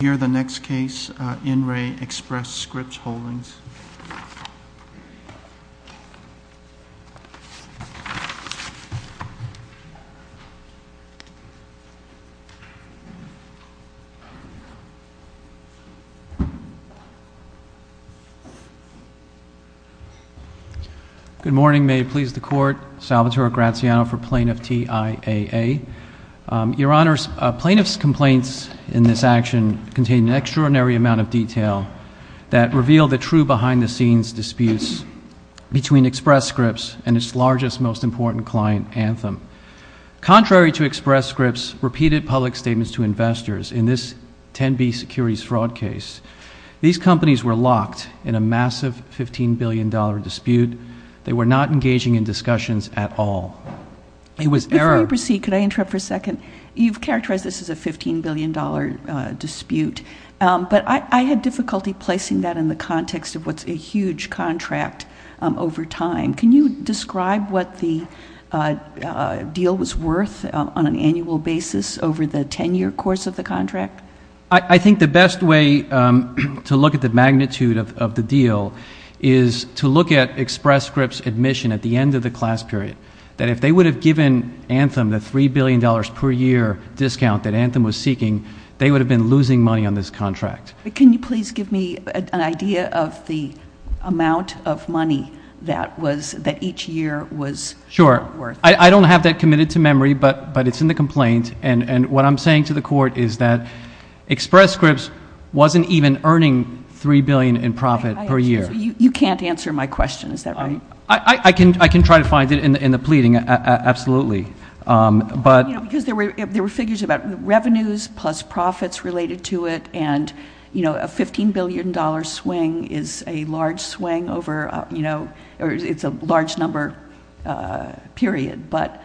Here the next case in re Express Scripts Holdings. Good morning. May it please the court. Salvatore Graziano for Plaintiff T. I. A. Your Honor, plaintiff's complaints in this action contain an extraordinary amount of detail that reveal the true behind-the-scenes disputes between Express Scripts and its largest, most important client, Anthem. Contrary to Express Scripts' repeated public statements to investors in this 10B securities fraud case, these companies were locked in a massive $15 billion dispute. They were not engaging in discussions at all. Before you proceed, could I interrupt for a second? You've characterized this as a $15 billion dispute, but I had difficulty placing that in the context of what's a huge contract over time. Can you describe what the deal was worth on an annual basis over the 10-year course of the contract? I think the best way to look at the magnitude of the deal is to look at Express Scripts' admission at the end of the class period, that if they would have given Anthem the $3 billion per year discount that Anthem was seeking, they would have been losing money on this contract. Can you please give me an idea of the amount of money that each year was worth? I don't have that committed to memory, but it's in the complaint, and what I'm saying to the Court is that Express Scripts wasn't even earning $3 billion in profit per year. You can't answer my question, is that right? I can try to find it in the pleading, absolutely. There were figures about revenues plus profits related to it, and a $15 billion swing is a large number period, but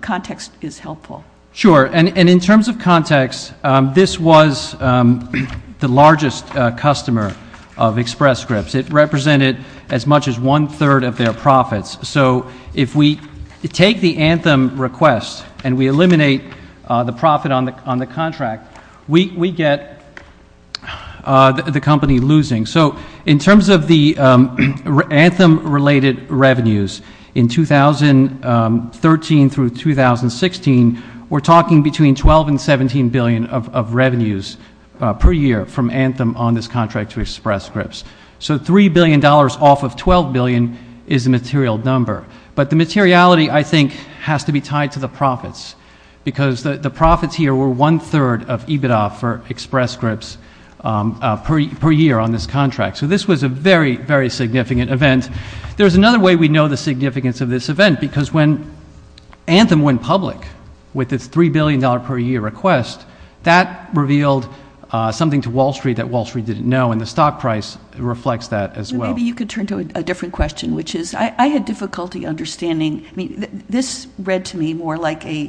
context is helpful. Sure, and in terms of context, this was the largest customer of Express Scripts. It represented as much as one-third of their profits. So if we take the Anthem request and we eliminate the profit on the contract, we get the company losing. So in terms of the Anthem-related revenues, in 2013 through 2016, we're talking between $12 and $17 billion of revenues per year from Anthem on this contract to Express Scripts. So $3 billion off of $12 billion is a material number. But the materiality, I think, has to be tied to the profits, because the profits here were one-third of EBITDA for Express Scripts per year on this contract. So this was a very, very significant event. There's another way we know the significance of this event, because when Anthem went public with its $3 billion per year request, that revealed something to Wall Street that Wall Street didn't know, and the stock price reflects that as well. Maybe you could turn to a different question, which is I had difficulty understanding. This read to me more like a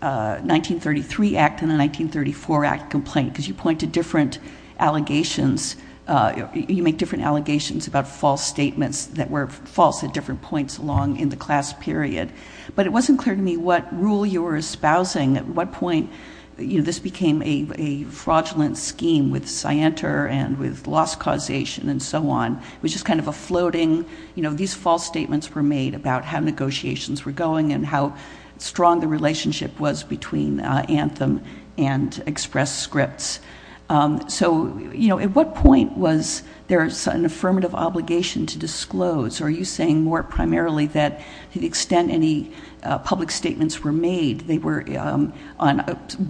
1933 Act and a 1934 Act complaint, because you point to different allegations. You make different allegations about false statements that were false at different points along in the class period. But it wasn't clear to me what rule you were espousing, at what point this became a fraudulent scheme with Scienter and with loss causation and so on. It was just kind of a floating. These false statements were made about how negotiations were going and how strong the relationship was between Anthem and Express Scripts. So at what point was there an affirmative obligation to disclose? Are you saying more primarily that to the extent any public statements were made, they were on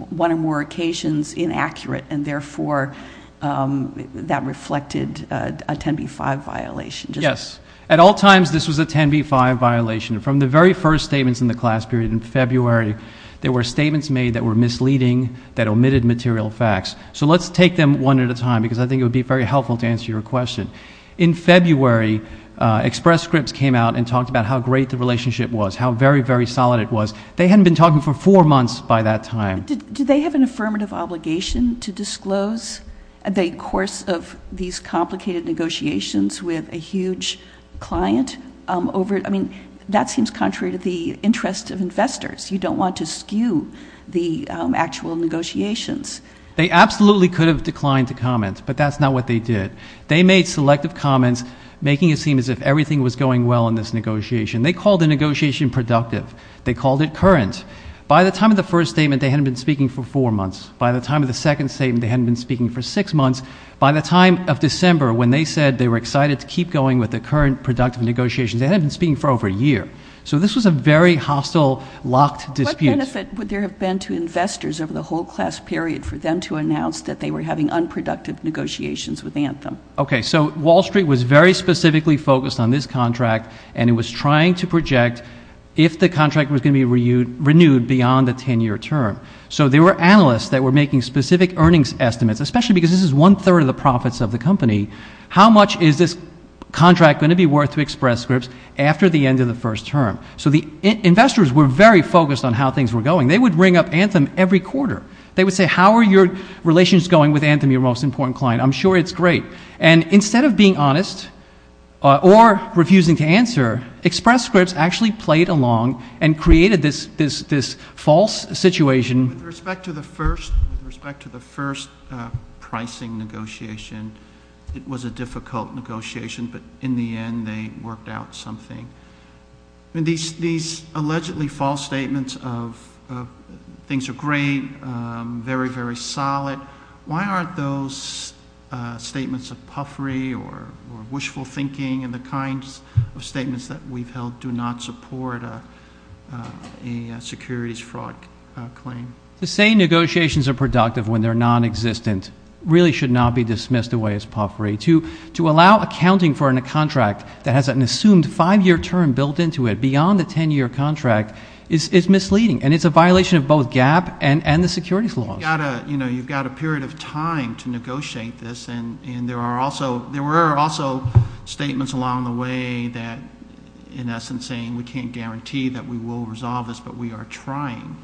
one or more occasions inaccurate, and therefore that reflected a 10b-5 violation? Yes. At all times, this was a 10b-5 violation. From the very first statements in the class period in February, there were statements made that were misleading, that omitted material facts. So let's take them one at a time, because I think it would be very helpful to answer your question. In February, Express Scripts came out and talked about how great the relationship was, how very, very solid it was. They hadn't been talking for four months by that time. Do they have an affirmative obligation to disclose the course of these complicated negotiations with a huge client? I mean, that seems contrary to the interest of investors. You don't want to skew the actual negotiations. They absolutely could have declined to comment, but that's not what they did. They made selective comments, making it seem as if everything was going well in this negotiation. They called the negotiation productive. They called it current. By the time of the first statement, they hadn't been speaking for four months. By the time of the second statement, they hadn't been speaking for six months. By the time of December, when they said they were excited to keep going with the current productive negotiations, they hadn't been speaking for over a year. So this was a very hostile, locked dispute. What benefit would there have been to investors over the whole class period for them to announce that they were having unproductive negotiations with Anthem? Okay, so Wall Street was very specifically focused on this contract, and it was trying to project if the contract was going to be renewed beyond the 10-year term. So there were analysts that were making specific earnings estimates, especially because this is one-third of the profits of the company. How much is this contract going to be worth to Express Scripts after the end of the first term? So the investors were very focused on how things were going. They would ring up Anthem every quarter. They would say, how are your relations going with Anthem, your most important client? I'm sure it's great. And instead of being honest or refusing to answer, Express Scripts actually played along and created this false situation. With respect to the first pricing negotiation, it was a difficult negotiation, but in the end they worked out something. These allegedly false statements of things are great, very, very solid. Why aren't those statements of puffery or wishful thinking and the kinds of statements that we've held do not support a securities fraud claim? To say negotiations are productive when they're nonexistent really should not be dismissed away as puffery. To allow accounting for a contract that has an assumed five-year term built into it beyond the ten-year contract is misleading, and it's a violation of both GAAP and the securities laws. You've got a period of time to negotiate this, and there were also statements along the way that, in essence, saying we can't guarantee that we will resolve this, but we are trying.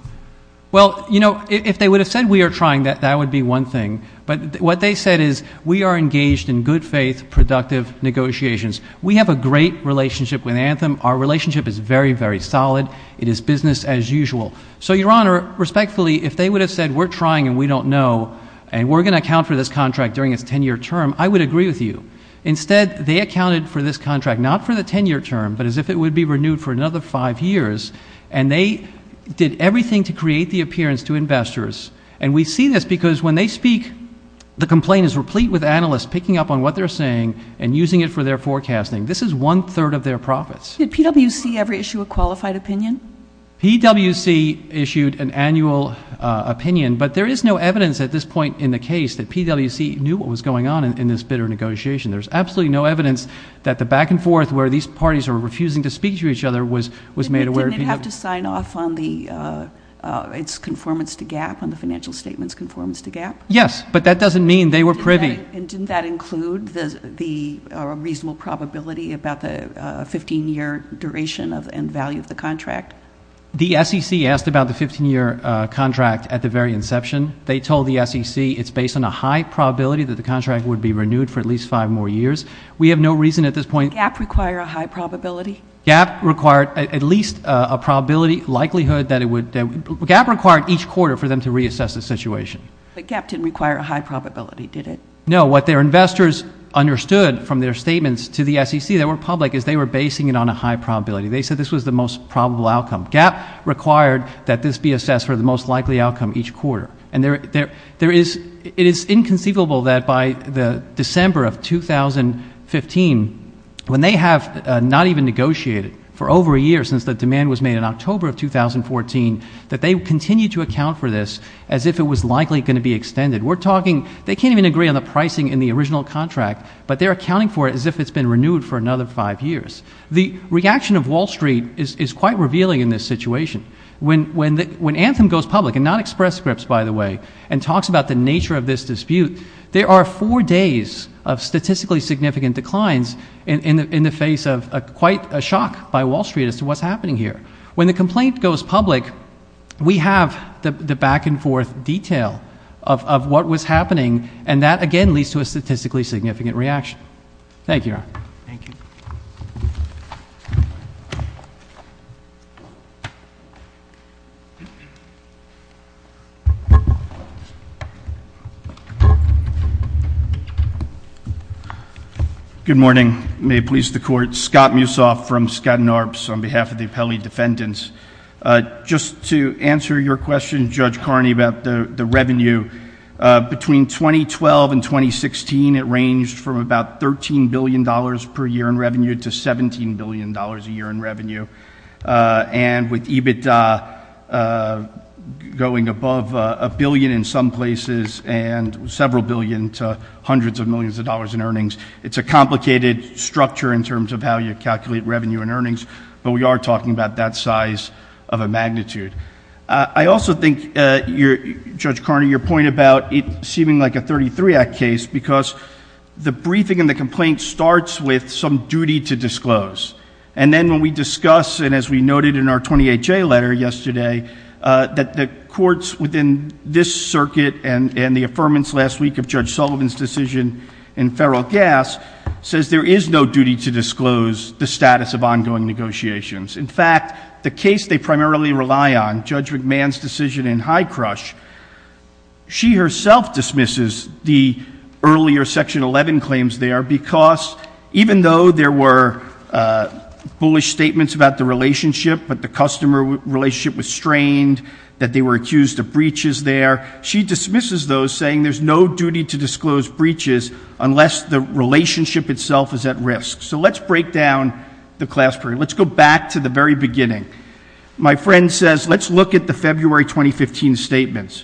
Well, if they would have said we are trying, that would be one thing. But what they said is we are engaged in good-faith, productive negotiations. We have a great relationship with Anthem. Our relationship is very, very solid. It is business as usual. So, Your Honor, respectfully, if they would have said we're trying and we don't know and we're going to account for this contract during its ten-year term, I would agree with you. Instead, they accounted for this contract not for the ten-year term, but as if it would be renewed for another five years, and they did everything to create the appearance to investors. And we see this because when they speak, the complaint is replete with analysts picking up on what they're saying and using it for their forecasting. This is one-third of their profits. Did PwC ever issue a qualified opinion? PwC issued an annual opinion, but there is no evidence at this point in the case that PwC knew what was going on in this bitter negotiation. There's absolutely no evidence that the back-and-forth where these parties are refusing to speak to each other was made aware. Didn't it have to sign off on its conformance to GAAP, on the financial statement's conformance to GAAP? Yes, but that doesn't mean they were privy. And didn't that include the reasonable probability about the 15-year duration and value of the contract? The SEC asked about the 15-year contract at the very inception. They told the SEC it's based on a high probability that the contract would be renewed for at least five more years. We have no reason at this point. Did GAAP require a high probability? GAAP required at least a probability likelihood that it would – GAAP required each quarter for them to reassess the situation. But GAAP didn't require a high probability, did it? No. What their investors understood from their statements to the SEC that were public is they were basing it on a high probability. They said this was the most probable outcome. GAAP required that this be assessed for the most likely outcome each quarter. And there is – it is inconceivable that by the December of 2015, when they have not even negotiated for over a year since the demand was made in October of 2014, that they continue to account for this as if it was likely going to be extended. We're talking – they can't even agree on the pricing in the original contract, but they're accounting for it as if it's been renewed for another five years. The reaction of Wall Street is quite revealing in this situation. When Anthem goes public – and not Express Scripts, by the way – and talks about the nature of this dispute, there are four days of statistically significant declines in the face of quite a shock by Wall Street as to what's happening here. When the complaint goes public, we have the back-and-forth detail of what was happening, and that, again, leads to a statistically significant reaction. Thank you. Thank you. Thank you. Good morning. May it please the Court. Scott Mussoff from Skadden Arps on behalf of the Appellee Defendants. Just to answer your question, Judge Carney, about the revenue, between 2012 and 2016, it ranged from about $13 billion per year in revenue to $17 billion a year in revenue. And with EBITDA going above a billion in some places and several billion to hundreds of millions of dollars in earnings, it's a complicated structure in terms of how you calculate revenue and earnings, but we are talking about that size of a magnitude. I also think, Judge Carney, your point about it seeming like a 33-Act case because the briefing in the complaint starts with some duty to disclose. And then when we discuss, and as we noted in our 28-J letter yesterday, that the courts within this circuit and the affirmance last week of Judge Sullivan's decision in Federal Gas says there is no duty to disclose the status of ongoing negotiations. In fact, the case they primarily rely on, Judge McMahon's decision in High Crush, she herself dismisses the earlier Section 11 claims there because even though there were bullish statements about the relationship, that the customer relationship was strained, that they were accused of breaches there, she dismisses those saying there's no duty to disclose breaches unless the relationship itself is at risk. So let's break down the class period. Let's go back to the very beginning. My friend says let's look at the February 2015 statements.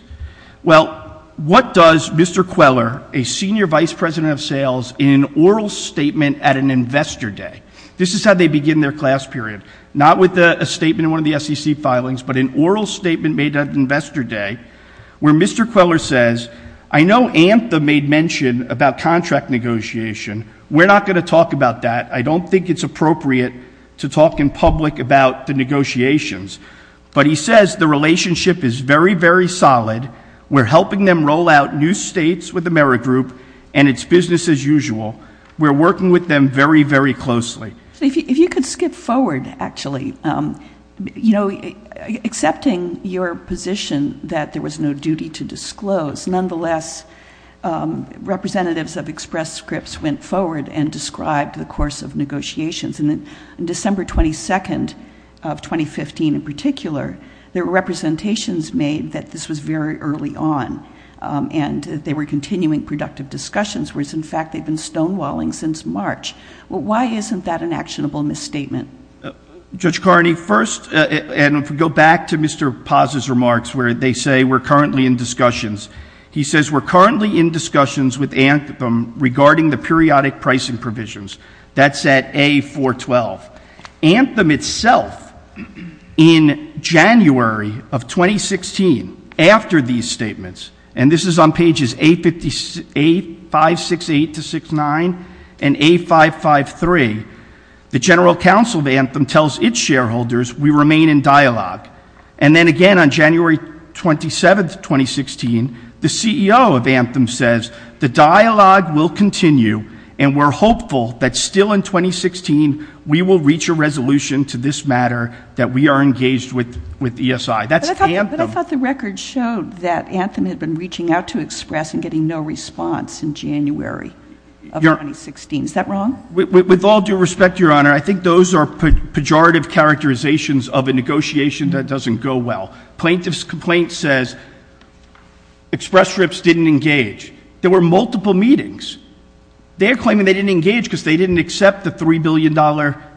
Well, what does Mr. Queller, a senior vice president of sales, in an oral statement at an investor day, this is how they begin their class period, not with a statement in one of the SEC filings, but an oral statement made at investor day where Mr. Queller says, I know ANTHA made mention about contract negotiation. We're not going to talk about that. I don't think it's appropriate to talk in public about the negotiations. But he says the relationship is very, very solid. We're helping them roll out new states with Amerigroup, and it's business as usual. We're working with them very, very closely. If you could skip forward, actually. You know, accepting your position that there was no duty to disclose, nonetheless, representatives of Express Scripts went forward and described the course of negotiations. And December 22nd of 2015 in particular, there were representations made that this was very early on, and they were continuing productive discussions, whereas, in fact, they've been stonewalling since March. Why isn't that an actionable misstatement? Judge Carney, first, and if we go back to Mr. Paz's remarks where they say we're currently in discussions, he says we're currently in discussions with ANTHEM regarding the periodic pricing provisions. That's at A-412. ANTHEM itself, in January of 2016, after these statements, and this is on pages A-568-69 and A-553, the General Counsel of ANTHEM tells its shareholders we remain in dialogue. And then again on January 27th, 2016, the CEO of ANTHEM says the dialogue will continue, and we're hopeful that still in 2016 we will reach a resolution to this matter that we are engaged with ESI. That's ANTHEM. But I thought the record showed that ANTHEM had been reaching out to Express and getting no response in January of 2016. Is that wrong? With all due respect, Your Honor, I think those are pejorative characterizations of a negotiation that doesn't go well. Plaintiff's complaint says Express trips didn't engage. There were multiple meetings. They're claiming they didn't engage because they didn't accept the $3 billion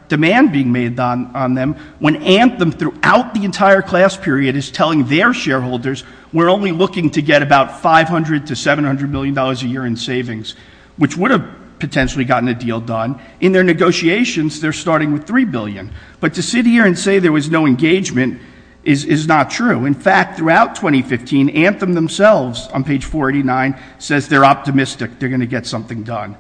demand being made on them when ANTHEM throughout the entire class period is telling their shareholders we're only looking to get about $500 to $700 million a year in savings, which would have potentially gotten a deal done. In their negotiations, they're starting with $3 billion. But to sit here and say there was no engagement is not true. In fact, throughout 2015, ANTHEM themselves on page 489 says they're optimistic they're going to get something done.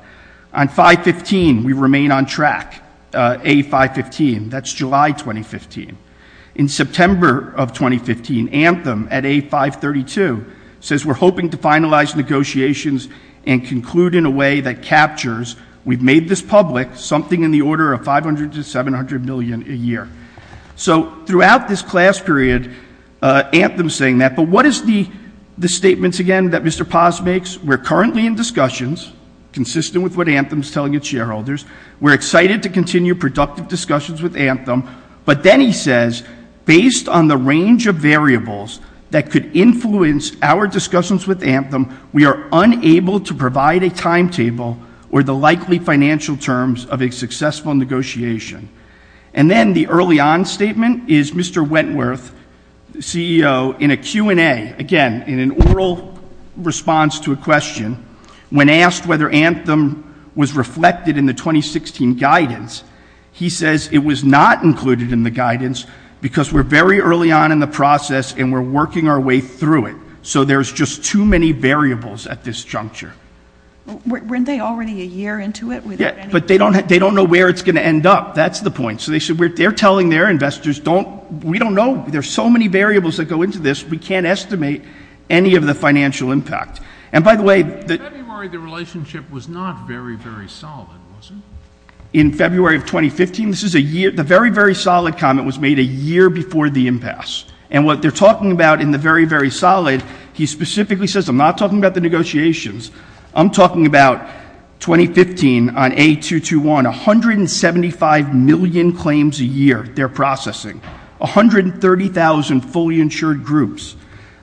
On 5-15, we remain on track, A-5-15. That's July 2015. In September of 2015, ANTHEM at A-5-32 says we're hoping to finalize negotiations and conclude in a way that captures we've made this public something in the order of $500 to $700 million a year. So throughout this class period, ANTHEM is saying that. But what is the statements, again, that Mr. Paz makes? We're currently in discussions consistent with what ANTHEM is telling its shareholders. We're excited to continue productive discussions with ANTHEM. But then he says, based on the range of variables that could influence our discussions with ANTHEM, we are unable to provide a timetable or the likely financial terms of a successful negotiation. And then the early-on statement is Mr. Wentworth, CEO, in a Q&A, again, in an oral response to a question, when asked whether ANTHEM was reflected in the 2016 guidance, he says it was not included in the guidance because we're very early on in the process and we're working our way through it. So there's just too many variables at this juncture. Weren't they already a year into it? Yeah, but they don't know where it's going to end up. That's the point. So they're telling their investors, we don't know. There are so many variables that go into this. We can't estimate any of the financial impact. And by the way — In February, the relationship was not very, very solid, was it? In February of 2015, the very, very solid comment was made a year before the impasse. And what they're talking about in the very, very solid, he specifically says, I'm not talking about the negotiations, I'm talking about 2015 on A221, 175 million claims a year they're processing, 130,000 fully insured groups.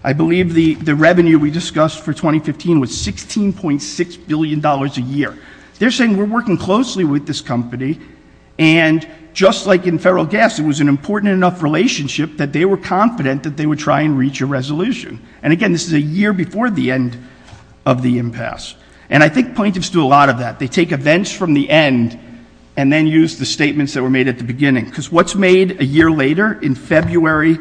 I believe the revenue we discussed for 2015 was $16.6 billion a year. They're saying we're working closely with this company, and just like in federal gas, it was an important enough relationship that they were confident that they would try and reach a resolution. And again, this is a year before the end of the impasse. And I think plaintiffs do a lot of that. They take events from the end and then use the statements that were made at the beginning. Because what's made a year later in February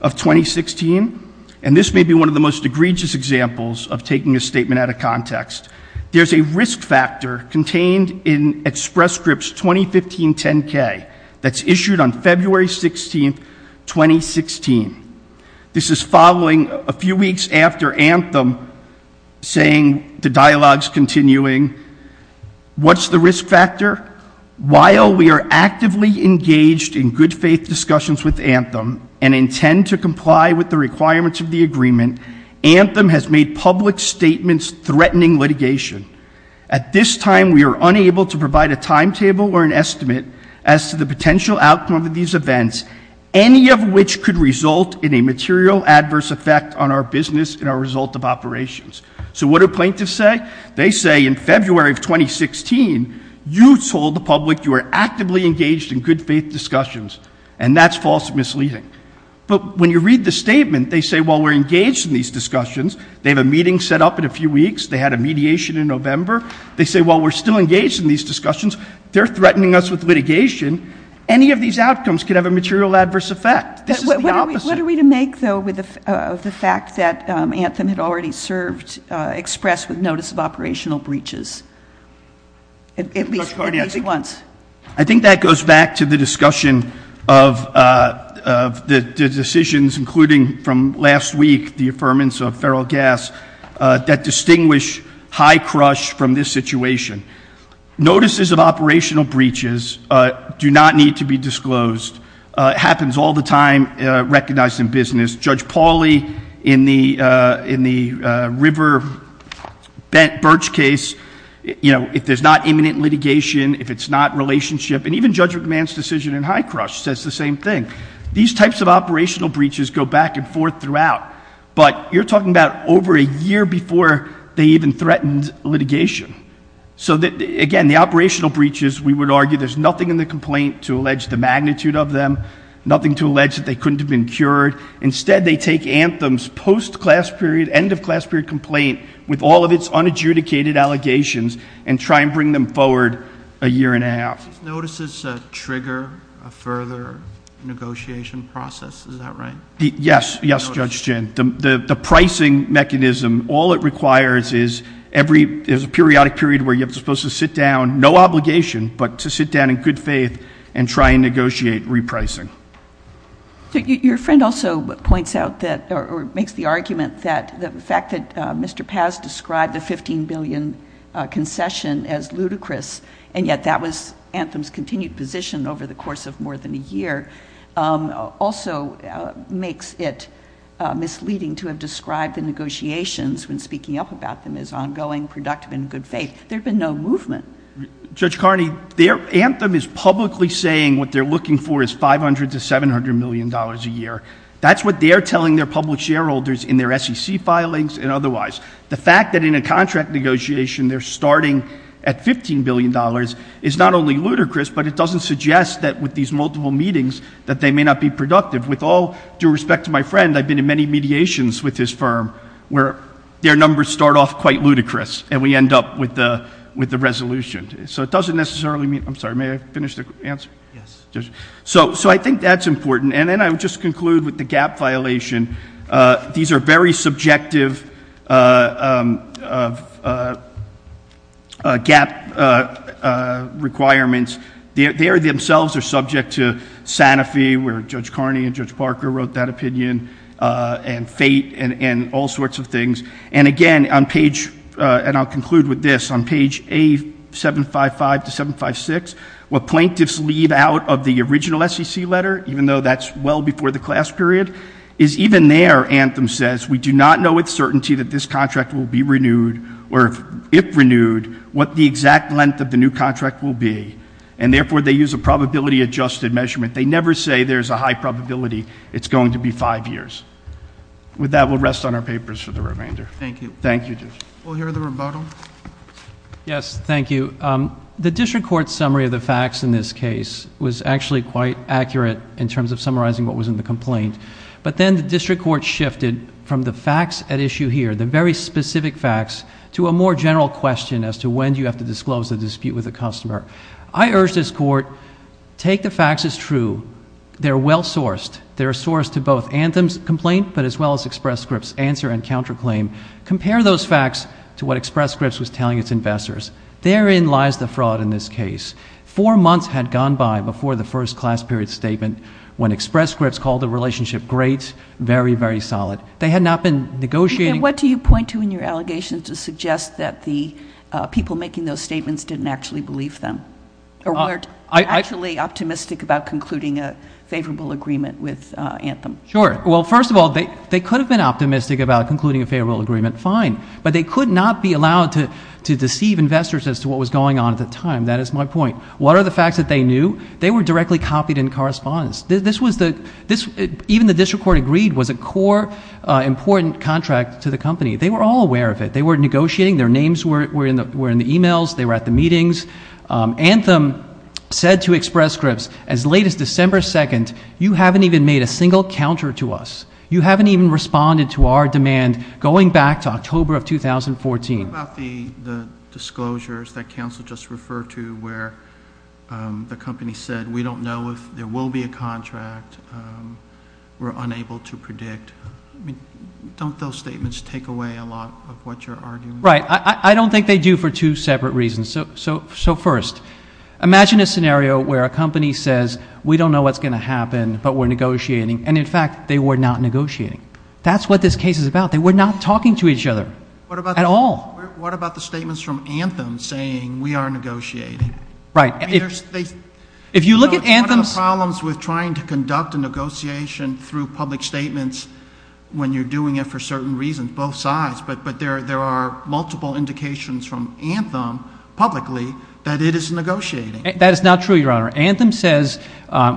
of 2016, and this may be one of the most egregious examples of taking a statement out of context, there's a risk factor contained in express scripts 2015-10-K that's issued on February 16, 2016. This is following a few weeks after Anthem saying the dialogue's continuing. What's the risk factor? While we are actively engaged in good faith discussions with Anthem and intend to comply with the requirements of the agreement, Anthem has made public statements threatening litigation. At this time, we are unable to provide a timetable or an estimate as to the potential outcome of these events, any of which could result in a material adverse effect on our business and our result of operations. So what do plaintiffs say? They say in February of 2016, you told the public you were actively engaged in good faith discussions, and that's false and misleading. But when you read the statement, they say, well, we're engaged in these discussions. They have a meeting set up in a few weeks. They had a mediation in November. They say, well, we're still engaged in these discussions. They're threatening us with litigation. Any of these outcomes could have a material adverse effect. This is the opposite. What are we to make, though, of the fact that Anthem had already served express with notice of operational breaches? At least once. I think that goes back to the discussion of the decisions, including from last week, the affirmance of feral gas that distinguish high crush from this situation. Notices of operational breaches do not need to be disclosed. It happens all the time, recognized in business. Judge Pauley in the river-bent birch case, if there's not imminent litigation, if it's not relationship. And even Judge McMahon's decision in high crush says the same thing. These types of operational breaches go back and forth throughout. But you're talking about over a year before they even threatened litigation. So, again, the operational breaches, we would argue there's nothing in the complaint to allege the magnitude of them, nothing to allege that they couldn't have been cured. Instead, they take Anthem's post-class period, end-of-class period complaint with all of its unadjudicated allegations and try and bring them forward a year and a half. These notices trigger a further negotiation process. Is that right? Yes. Yes, Judge Ginn. The pricing mechanism, all it requires is a periodic period where you're supposed to sit down, no obligation, but to sit down in good faith and try and negotiate repricing. Your friend also points out or makes the argument that the fact that Mr. Paz described the $15 billion concession as ludicrous, and yet that was Anthem's continued position over the course of more than a year, also makes it misleading to have described the negotiations when speaking up about them as ongoing, productive, and in good faith. There had been no movement. Judge Carney, Anthem is publicly saying what they're looking for is $500 to $700 million a year. That's what they're telling their public shareholders in their SEC filings and otherwise. The fact that in a contract negotiation they're starting at $15 billion is not only ludicrous, but it doesn't suggest that with these multiple meetings that they may not be productive. With all due respect to my friend, I've been in many mediations with his firm where their numbers start off quite ludicrous and we end up with the resolution. So it doesn't necessarily mean – I'm sorry, may I finish the answer? Yes. So I think that's important. And then I would just conclude with the gap violation. These are very subjective gap requirements. They themselves are subject to Sanofi, where Judge Carney and Judge Parker wrote that opinion, and fate and all sorts of things. And, again, on page – and I'll conclude with this – on page A755 to 756, what plaintiffs leave out of the original SEC letter, even though that's well before the class period, is even there, Anthem says, we do not know with certainty that this contract will be renewed, or if renewed, what the exact length of the new contract will be. And, therefore, they use a probability-adjusted measurement. They never say there's a high probability it's going to be five years. With that, we'll rest on our papers for the remainder. Thank you. Thank you, Judge. We'll hear the rebuttal. Yes. Thank you. The district court summary of the facts in this case was actually quite accurate in terms of summarizing what was in the complaint. But then the district court shifted from the facts at issue here, the very specific facts, to a more general question as to when do you have to disclose the dispute with the customer. I urge this court, take the facts as true. They're well sourced. They're a source to both Anthem's complaint, but as well as Express Script's answer and counterclaim. Compare those facts to what Express Script was telling its investors. Therein lies the fraud in this case. Four months had gone by before the first class period statement when Express Script called the relationship great, very, very solid. They had not been negotiating. And what do you point to in your allegations to suggest that the people making those statements didn't actually believe them? Or weren't actually optimistic about concluding a favorable agreement with Anthem? Sure. Well, first of all, they could have been optimistic about concluding a favorable agreement. Fine. But they could not be allowed to deceive investors as to what was going on at the time. That is my point. What are the facts that they knew? They were directly copied in correspondence. Even the district court agreed it was a core, important contract to the company. They were all aware of it. They were negotiating. Their names were in the e-mails. They were at the meetings. Anthem said to Express Script, as late as December 2nd, you haven't even made a single counter to us. You haven't even responded to our demand going back to October of 2014. What about the disclosures that counsel just referred to where the company said we don't know if there will be a contract? We're unable to predict. Don't those statements take away a lot of what you're arguing? Right. I don't think they do for two separate reasons. So first, imagine a scenario where a company says we don't know what's going to happen, but we're negotiating, and, in fact, they were not negotiating. That's what this case is about. They were not talking to each other at all. What about the statements from Anthem saying we are negotiating? If you look at Anthem's ---- It's one of the problems with trying to conduct a negotiation through public statements when you're doing it for certain reasons, both sides. But there are multiple indications from Anthem publicly that it is negotiating. That is not true, Your Honor. Anthem says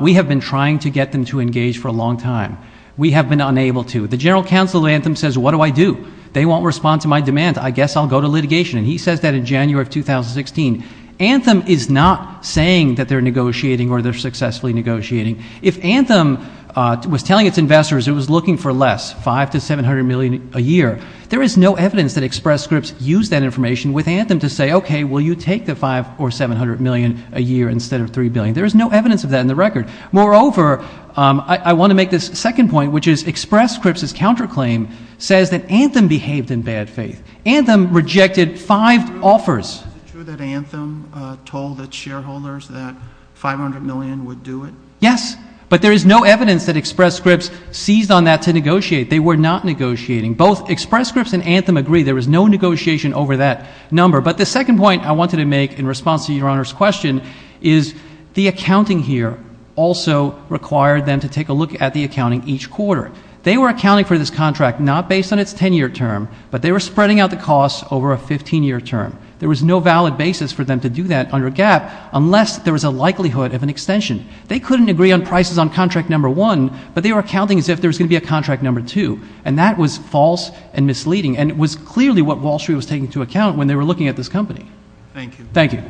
we have been trying to get them to engage for a long time. We have been unable to. The general counsel of Anthem says what do I do? They won't respond to my demand. I guess I'll go to litigation. And he says that in January of 2016. Anthem is not saying that they're negotiating or they're successfully negotiating. If Anthem was telling its investors it was looking for less, $500 million to $700 million a year, there is no evidence that Express Scripts used that information with Anthem to say, okay, will you take the $500 million or $700 million a year instead of $3 billion? There is no evidence of that in the record. Moreover, I want to make this second point, which is Express Scripts' counterclaim says that Anthem behaved in bad faith. Anthem rejected five offers. Is it true that Anthem told its shareholders that $500 million would do it? Yes. But there is no evidence that Express Scripts seized on that to negotiate. They were not negotiating. Both Express Scripts and Anthem agree there was no negotiation over that number. But the second point I wanted to make in response to Your Honor's question is the accounting here also required them to take a look at the accounting each quarter. They were accounting for this contract not based on its 10-year term, but they were spreading out the costs over a 15-year term. There was no valid basis for them to do that under GAAP unless there was a likelihood of an extension. They couldn't agree on prices on contract number one, but they were accounting as if there was going to be a contract number two. And that was false and misleading, and it was clearly what Wall Street was taking into account when they were looking at this company. Thank you. Thank you.